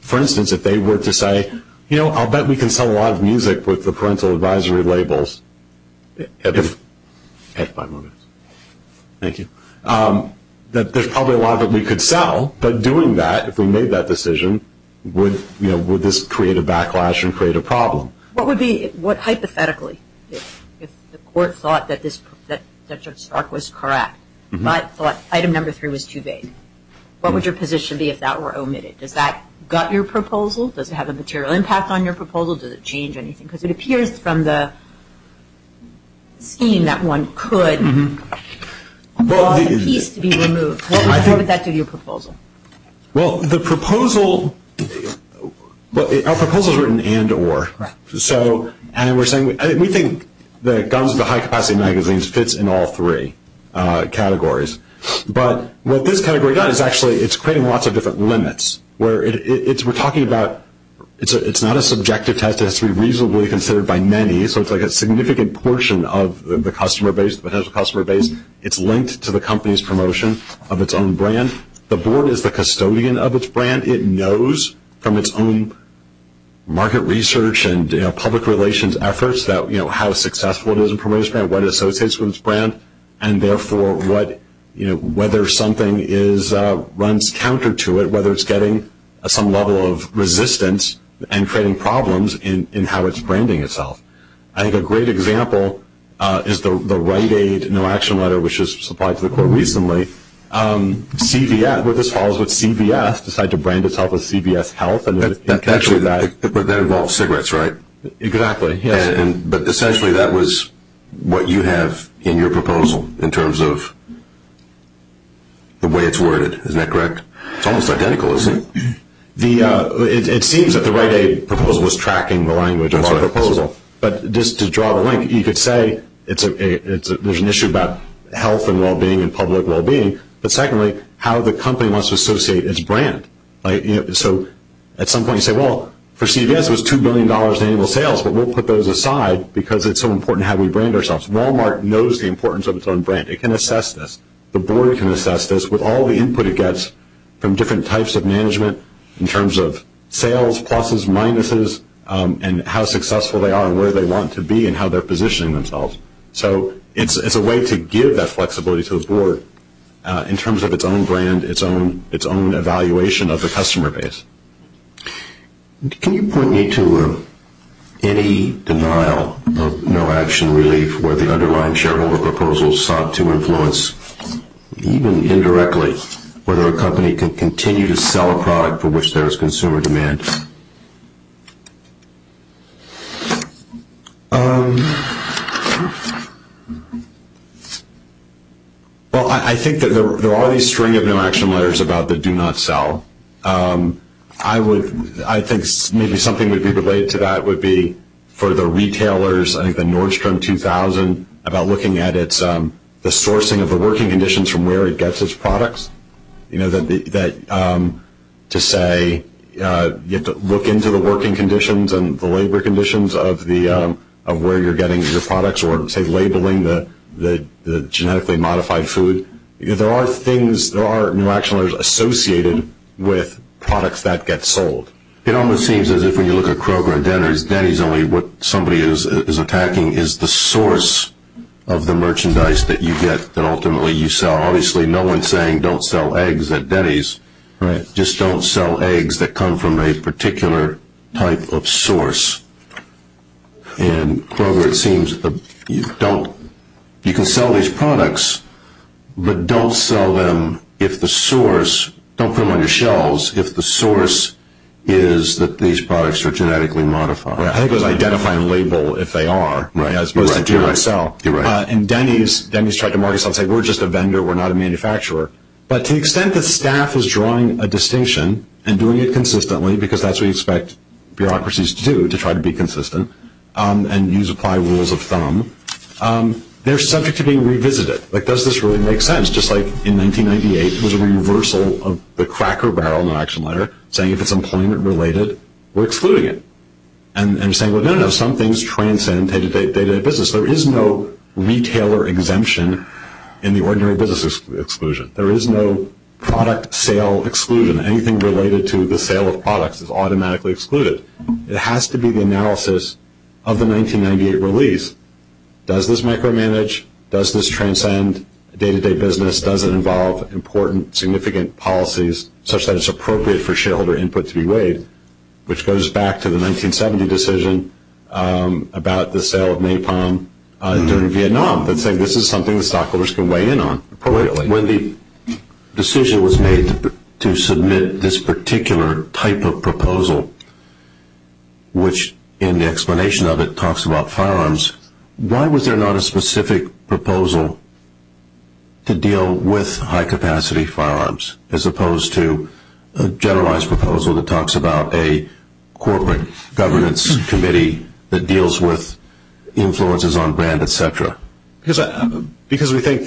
For instance, if they were to say, you know, I'll bet we can sell a lot of music with the parental advisory labels. Thank you. There's probably a lot that we could sell, but doing that, if we made that decision, would this create a backlash and create a problem? What hypothetically, if the court thought that Judge Stark was correct, but thought item number three was too vague, what would your position be if that were omitted? Does that gut your proposal? Does it have a material impact on your proposal? Does it change anything? Because it appears from the scheme that one could want a piece to be removed. What would that do to your proposal? Well, the proposal, our proposal is written and or. So we think the guns of the high-capacity magazines fits in all three categories. But what this category does is actually it's creating lots of different limits. We're talking about it's not a subjective test. It has to be reasonably considered by many. So it's like a significant portion of the potential customer base. It's linked to the company's promotion of its own brand. The board is the custodian of its brand. It knows from its own market research and public relations efforts how successful it is in promoting its brand, what it associates with its brand, and, therefore, whether something runs counter to it, whether it's getting some level of resistance and creating problems in how it's branding itself. I think a great example is the Rite Aid no-action letter, which was supplied to the court recently. CVS, this falls with CVS, decided to brand itself as CVS Health. But that involves cigarettes, right? Exactly, yes. But essentially that was what you have in your proposal in terms of the way it's worded. Isn't that correct? It's almost identical, isn't it? It seems that the Rite Aid proposal was tracking the language of our proposal. But just to draw the link, you could say there's an issue about health and well-being and public well-being, but, secondly, how the company wants to associate its brand. So at some point you say, well, for CVS it was $2 billion in annual sales, but we'll put those aside because it's so important how we brand ourselves. Walmart knows the importance of its own brand. It can assess this. The board can assess this with all the input it gets from different types of management in terms of sales, pluses, minuses, and how successful they are and where they want to be and how they're positioning themselves. So it's a way to give that flexibility to the board in terms of its own brand, its own evaluation of the customer base. Can you point me to any denial of no-action relief where the underlying shareholder proposal sought to influence, even indirectly, whether a company can continue to sell a product for which there is consumer demand? Well, I think that there are these string of no-action letters about the do-not-sell. I think maybe something that would be related to that would be for the retailers, I think the Nordstrom 2000, about looking at the sourcing of the working conditions from where it gets its products. You know, to say you have to look into the working conditions and the labor conditions of where you're getting your products or say labeling the genetically modified food. There are things, there are no-action letters associated with products that get sold. It almost seems as if when you look at Kroger and Denner's, Denny's only what somebody is attacking is the source of the merchandise that you get that ultimately you sell. Obviously, no one is saying don't sell eggs at Denny's. Just don't sell eggs that come from a particular type of source. And Kroger, it seems that you can sell these products, but don't sell them if the source, don't put them on your shelves, if the source is that these products are genetically modified. I think it was identify and label if they are as opposed to do-not-sell. You're right. And Denny's, Denny's tried to market it and say we're just a vendor, we're not a manufacturer. But to the extent that staff is drawing a distinction and doing it consistently, because that's what you expect bureaucracies to do, to try to be consistent, and use applied rules of thumb, they're subject to being revisited. Like, does this really make sense? Just like in 1998, there was a reversal of the cracker barrel, no-action letter, saying if it's employment related, we're excluding it. And they're saying, well, no, no, some things transcend day-to-day business. There is no retailer exemption in the ordinary business exclusion. There is no product sale exclusion. Anything related to the sale of products is automatically excluded. It has to be the analysis of the 1998 release. Does this micromanage? Does this transcend day-to-day business? Does it involve important, significant policies, such that it's appropriate for shareholder input to be weighed, which goes back to the 1970 decision about the sale of napalm during Vietnam and saying this is something the stockholders can weigh in on. When the decision was made to submit this particular type of proposal, which in the explanation of it talks about firearms, why was there not a specific proposal to deal with high-capacity firearms, as opposed to a generalized proposal that talks about a corporate governance committee that deals with influences on brand, et cetera? Because we think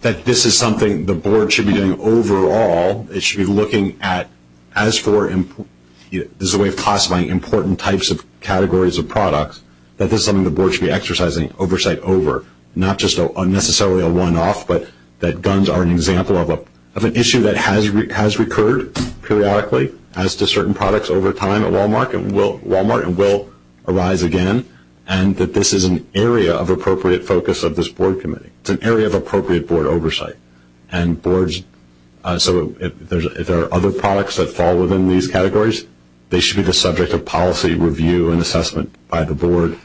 that this is something the board should be doing overall. It should be looking at, as a way of classifying important types of categories of products, that this is something the board should be exercising oversight over, not just necessarily a one-off, but that guns are an example of an issue that has recurred periodically as to certain products over time at Walmart and will arise again, and that this is an area of appropriate focus of this board committee. It's an area of appropriate board oversight. So if there are other products that fall within these categories, they should be the subject of policy review and assessment by the board,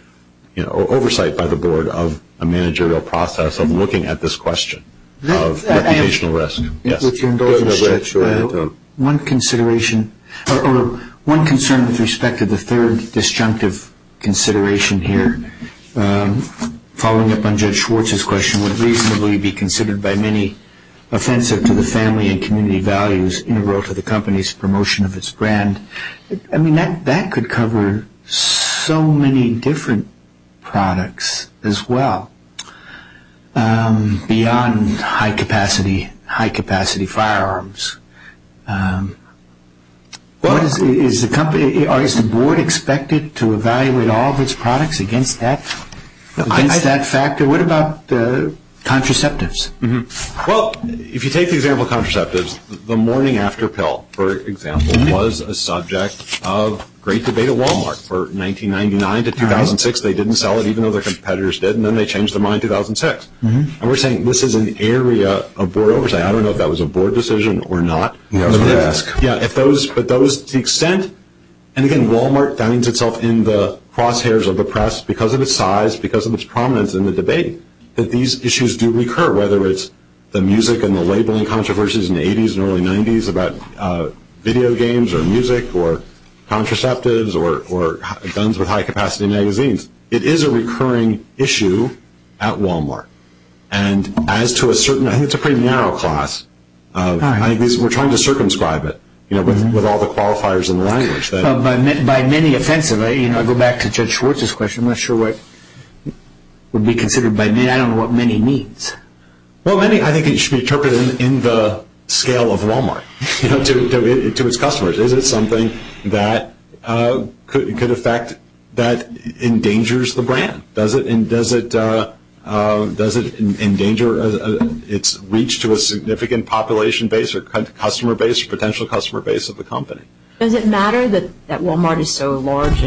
oversight by the board of a managerial process of looking at this question of reputational risk. One concern with respect to the third disjunctive consideration here, following up on Judge Schwartz's question, would reasonably be considered by many offensive to the family and community values as integral to the company's promotion of its brand. I mean, that could cover so many different products as well beyond high-capacity firearms. Is the board expected to evaluate all of its products against that factor? What about contraceptives? Well, if you take the example of contraceptives, the morning-after pill, for example, was a subject of great debate at Walmart from 1999 to 2006. They didn't sell it even though their competitors did, and then they changed their mind in 2006. And we're saying this is an area of board oversight. I don't know if that was a board decision or not. Yeah, I was going to ask. Yeah, but to the extent, and again, Walmart finds itself in the crosshairs of the press because of its size, because of its prominence in the debate, that these issues do recur, whether it's the music and the labeling controversies in the 80s and early 90s about video games or music or contraceptives or guns with high-capacity magazines. It is a recurring issue at Walmart. And as to a certain, I think it's a pretty narrow class. We're trying to circumscribe it with all the qualifiers in the language. By many offensive, I go back to Judge Schwartz's question. I'm not sure what would be considered by many. I don't know what many means. Well, I think it should be interpreted in the scale of Walmart to its customers. Is it something that could affect, that endangers the brand? Does it endanger its reach to a significant population base or potential customer base of the company? Does it matter that Walmart is so large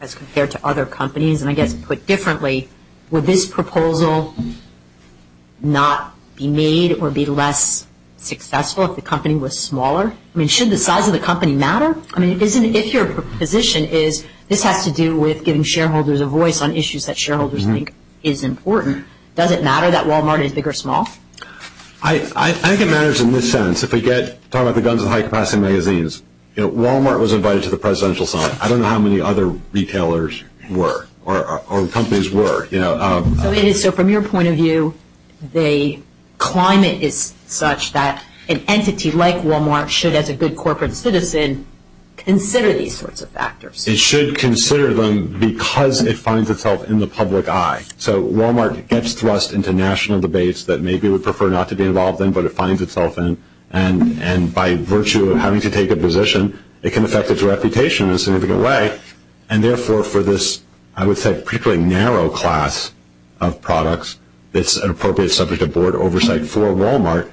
as compared to other companies? And I guess put differently, would this proposal not be made or be less successful if the company was smaller? I mean, should the size of the company matter? I mean, if your position is this has to do with giving shareholders a voice on issues that shareholders think is important, does it matter that Walmart is big or small? I think it matters in this sense. If we talk about the guns with high-capacity magazines, Walmart was invited to the presidential summit. I don't know how many other retailers were or companies were. So from your point of view, the climate is such that an entity like Walmart should, as a good corporate citizen, consider these sorts of factors. It should consider them because it finds itself in the public eye. So Walmart gets thrust into national debates that maybe it would prefer not to be involved in, but it finds itself in. And by virtue of having to take a position, it can affect its reputation in a significant way, and therefore for this, I would say, particularly narrow class of products, it's an appropriate subject of board oversight for Walmart.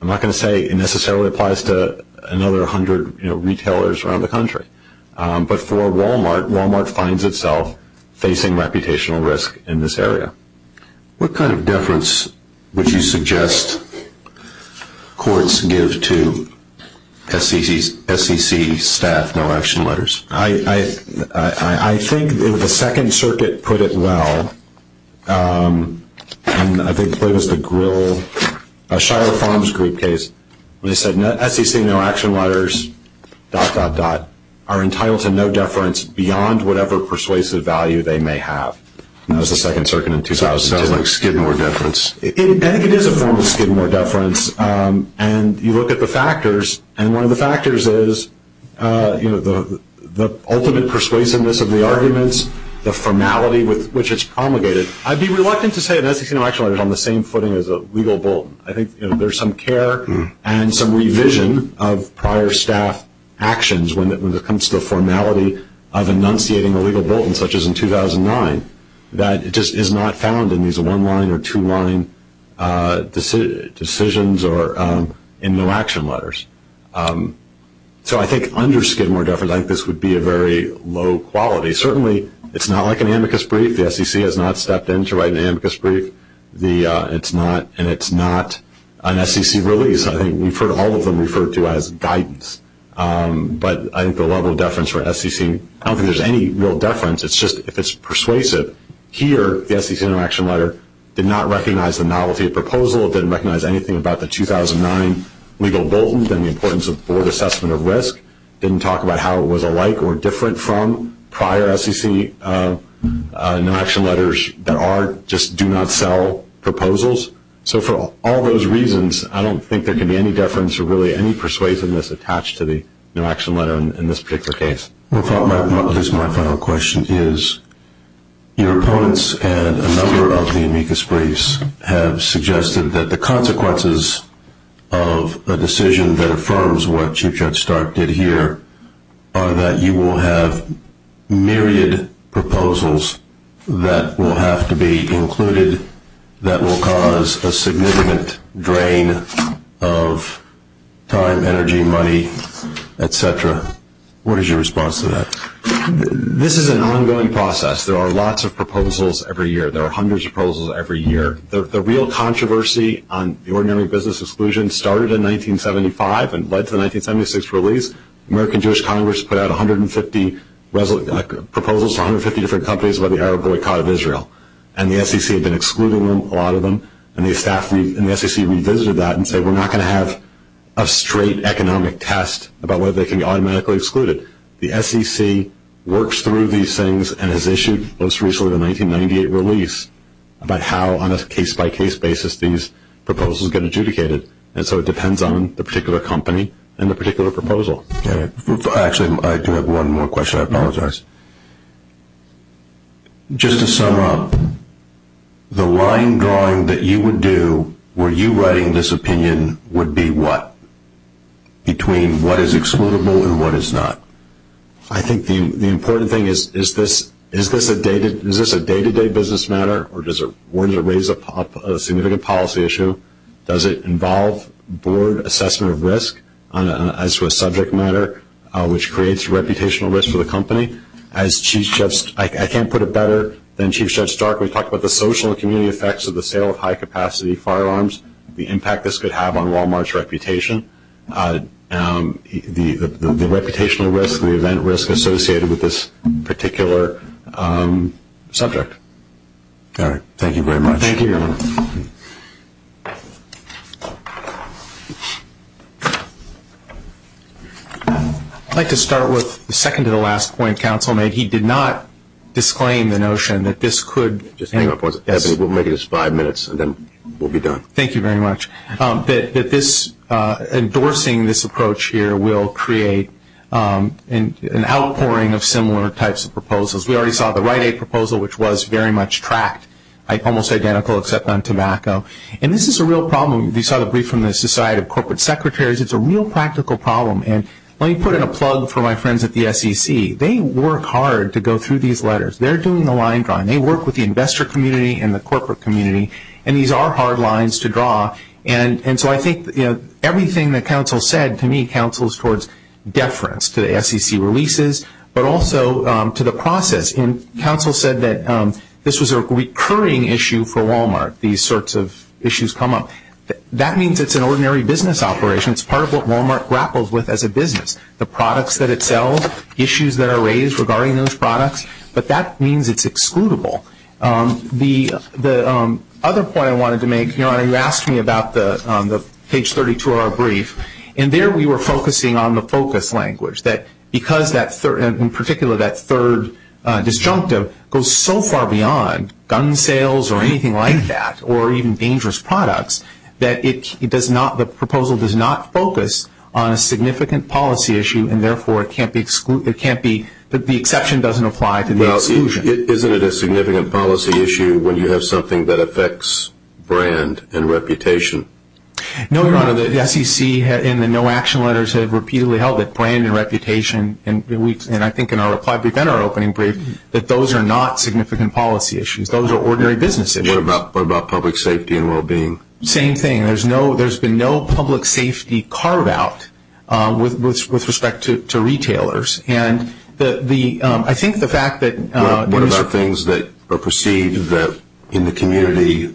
I'm not going to say it necessarily applies to another hundred retailers around the country, but for Walmart, Walmart finds itself facing reputational risk in this area. What kind of deference would you suggest courts give to SEC staff no-action letters? I think the Second Circuit put it well, and I think it was the Shire Farms Group case. They said, SEC no-action letters, dot, dot, dot, are entitled to no deference beyond whatever persuasive value they may have. That was the Second Circuit in 2010. Sounds like Skidmore deference. I think it is a form of Skidmore deference, and you look at the factors, and one of the factors is the ultimate persuasiveness of the arguments, the formality with which it's promulgated. I'd be reluctant to say an SEC no-action letter is on the same footing as a legal bulletin. I think there's some care and some revision of prior staff actions when it comes to the formality of enunciating a legal bulletin, such as in 2009, that just is not found in these one-line or two-line decisions or in no-action letters. So I think under Skidmore deference, I think this would be a very low quality. Certainly, it's not like an amicus brief. The SEC has not stepped in to write an amicus brief, and it's not an SEC release. I think we've heard all of them referred to as guidance, but I think the level of deference for SEC, I don't think there's any real deference. It's just if it's persuasive. Here, the SEC no-action letter did not recognize the novelty of proposal. It didn't recognize anything about the 2009 legal bulletin and the importance of board assessment of risk. It didn't talk about how it was alike or different from prior SEC no-action letters that are just do-not-sell proposals. So for all those reasons, I don't think there can be any deference or really any persuasiveness attached to the no-action letter in this particular case. My final question is your opponents and a number of the amicus briefs have suggested that the consequences of a decision that affirms what Chief Judge Stark did here are that you will have myriad proposals that will have to be included that will cause a significant drain of time, energy, money, et cetera. What is your response to that? This is an ongoing process. There are lots of proposals every year. There are hundreds of proposals every year. The real controversy on the ordinary business exclusion started in 1975 and led to the 1976 release. The American Jewish Congress put out 150 proposals to 150 different companies by the Arab boycott of Israel, and the SEC had been excluding them, a lot of them, and the SEC revisited that and said we're not going to have a straight economic test about whether they can be automatically excluded. The SEC works through these things and has issued most recently the 1998 release about how on a case-by-case basis these proposals get adjudicated, and so it depends on the particular company and the particular proposal. I apologize. Just to sum up, the line drawing that you would do were you writing this opinion would be what? Between what is excludable and what is not? I think the important thing is is this a day-to-day business matter or does it raise a significant policy issue? Does it involve board assessment of risk as to a subject matter, which creates a reputational risk for the company? I can't put it better than Chief Judge Stark. We talked about the social and community effects of the sale of high-capacity firearms, the impact this could have on Walmart's reputation, the reputational risk, the event risk associated with this particular subject. All right. Thank you very much. Thank you, Your Honor. I'd like to start with the second-to-the-last point Counsel made. He did not disclaim the notion that this could Just hang on for a second. We'll make this five minutes and then we'll be done. Thank you very much. That endorsing this approach here will create an outpouring of similar types of proposals. We already saw the Rite Aid proposal, which was very much tracked, almost identical except on tobacco. And this is a real problem. You saw the brief from the Society of Corporate Secretaries. It's a real practical problem. And let me put in a plug for my friends at the SEC. They work hard to go through these letters. They're doing the line drawing. They work with the investor community and the corporate community. And these are hard lines to draw. And so I think everything that Counsel said, to me, counsels towards deference to the SEC releases but also to the process. And Counsel said that this was a recurring issue for Walmart, these sorts of issues come up. That means it's an ordinary business operation. It's part of what Walmart grapples with as a business, the products that it sells, issues that are raised regarding those products. But that means it's excludable. The other point I wanted to make, Your Honor, you asked me about the page 32 of our brief, and there we were focusing on the focus language, that because that third, in particular that third disjunctive goes so far beyond gun sales or anything like that or even dangerous products, that it does not, the proposal does not focus on a significant policy issue and therefore it can't be, the exception doesn't apply to the exclusion. Well, isn't it a significant policy issue when you have something that affects brand and reputation? No, Your Honor, the SEC in the no action letters have repeatedly held that brand and reputation, and I think in our reply brief and our opening brief, that those are not significant policy issues. Those are ordinary business issues. What about public safety and well-being? Same thing. There's been no public safety carve-out with respect to retailers, and I think the fact that What about things that are perceived that in the community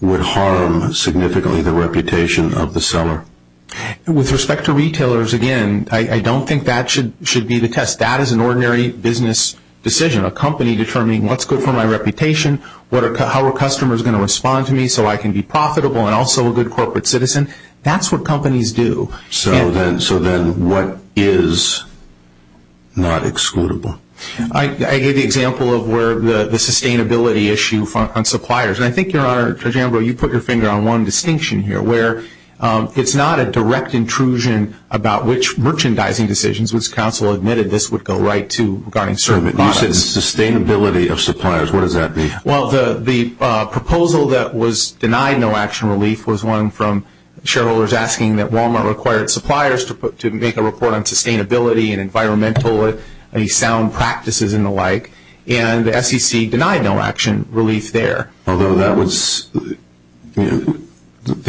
would harm significantly the reputation of the seller? With respect to retailers, again, I don't think that should be the test. That is an ordinary business decision. A company determining what's good for my reputation, how are customers going to respond to me so I can be profitable and also a good corporate citizen, that's what companies do. So then what is not excludable? I gave the example of where the sustainability issue on suppliers, and I think, Your Honor, Judge Ambrose, you put your finger on one distinction here where it's not a direct intrusion about which merchandising decisions, which counsel admitted this would go right to regarding certain products. You said sustainability of suppliers. What does that mean? Well, the proposal that was denied no action relief was one from shareholders asking that Wal-Mart require its suppliers to make a report on sustainability and environmental, any sound practices and the like, and SEC denied no action relief there. Although that was, the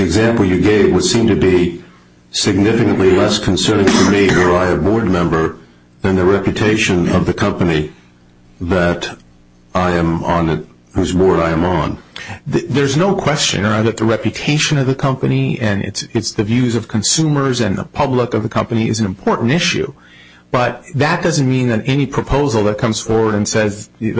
example you gave would seem to be significantly less concerning to me or I, a board member, than the reputation of the company that I am on, whose board I am on. There's no question, Your Honor, that the reputation of the company and it's the views of consumers and the public of the company is an important issue. But that doesn't mean that any proposal that comes forward and says the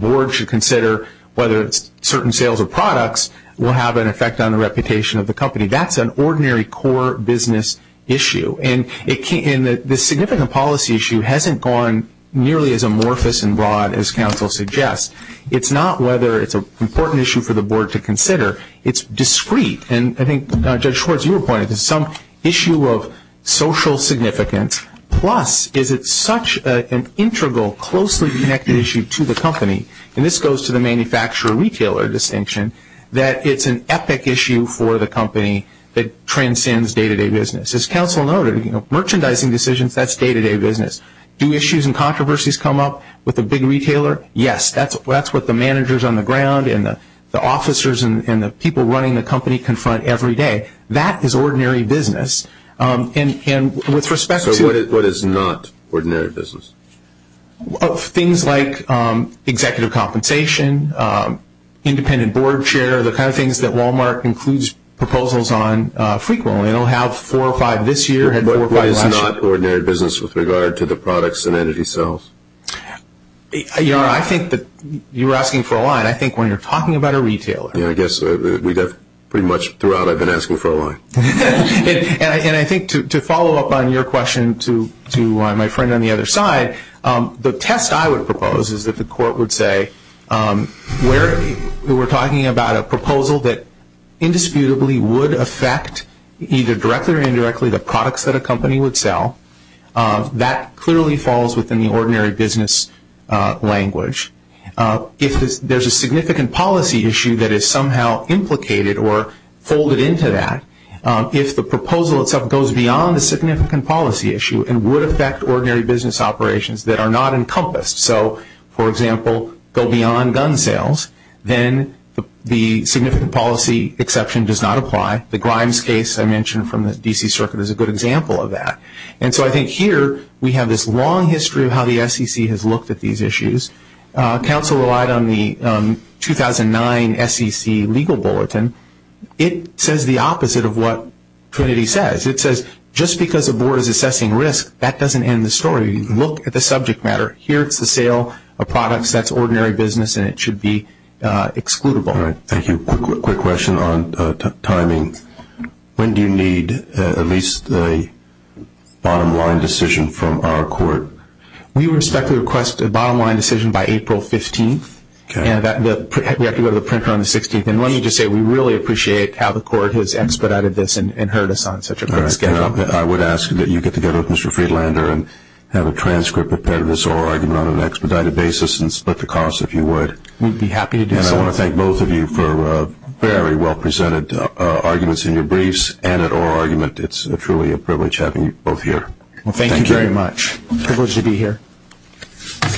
board should consider whether certain sales or products will have an effect on the reputation of the company. That's an ordinary core business issue. And the significant policy issue hasn't gone nearly as amorphous and broad as counsel suggests. It's not whether it's an important issue for the board to consider. It's discrete. And I think, Judge Schwartz, you were pointing to some issue of social significance, plus is it such an integral, closely connected issue to the company, and this goes to the manufacturer-retailer distinction, that it's an epic issue for the company that transcends day-to-day business. As counsel noted, merchandising decisions, that's day-to-day business. Do issues and controversies come up with a big retailer? Yes. That's what the managers on the ground and the officers and the people running the company confront every day. That is ordinary business. And with respect to what is not ordinary business? Things like executive compensation, independent board chair, the kind of things that Walmart includes proposals on frequently. They don't have four or five this year and four or five last year. What is not ordinary business with regard to the products and entity sales? You know, I think that you were asking for a line. I think when you're talking about a retailer. Yeah, I guess pretty much throughout I've been asking for a line. And I think to follow up on your question to my friend on the other side, the test I would propose is that the court would say we're talking about a proposal that indisputably would affect either directly or indirectly the products that a company would sell. That clearly falls within the ordinary business language. If there's a significant policy issue that is somehow implicated or folded into that, if the proposal itself goes beyond the significant policy issue and would affect ordinary business operations that are not encompassed, so, for example, go beyond gun sales, then the significant policy exception does not apply. The Grimes case I mentioned from the D.C. Circuit is a good example of that. And so I think here we have this long history of how the SEC has looked at these issues. Counsel relied on the 2009 SEC legal bulletin. It says the opposite of what Trinity says. It says just because a board is assessing risk, that doesn't end the story. So you look at the subject matter. Here it's the sale of products, that's ordinary business, and it should be excludable. Thank you. Quick question on timing. When do you need at least a bottom line decision from our court? We respectfully request a bottom line decision by April 15th. We have to go to the printer on the 16th. And let me just say we really appreciate how the court has expedited this and heard us on such a quick schedule. I would ask that you get together with Mr. Friedlander and have a transcript prepared of this oral argument on an expedited basis and split the cost if you would. We'd be happy to do so. And I want to thank both of you for very well presented arguments in your briefs and at oral argument. It's truly a privilege having you both here. Thank you very much. Thank you. A privilege to be here.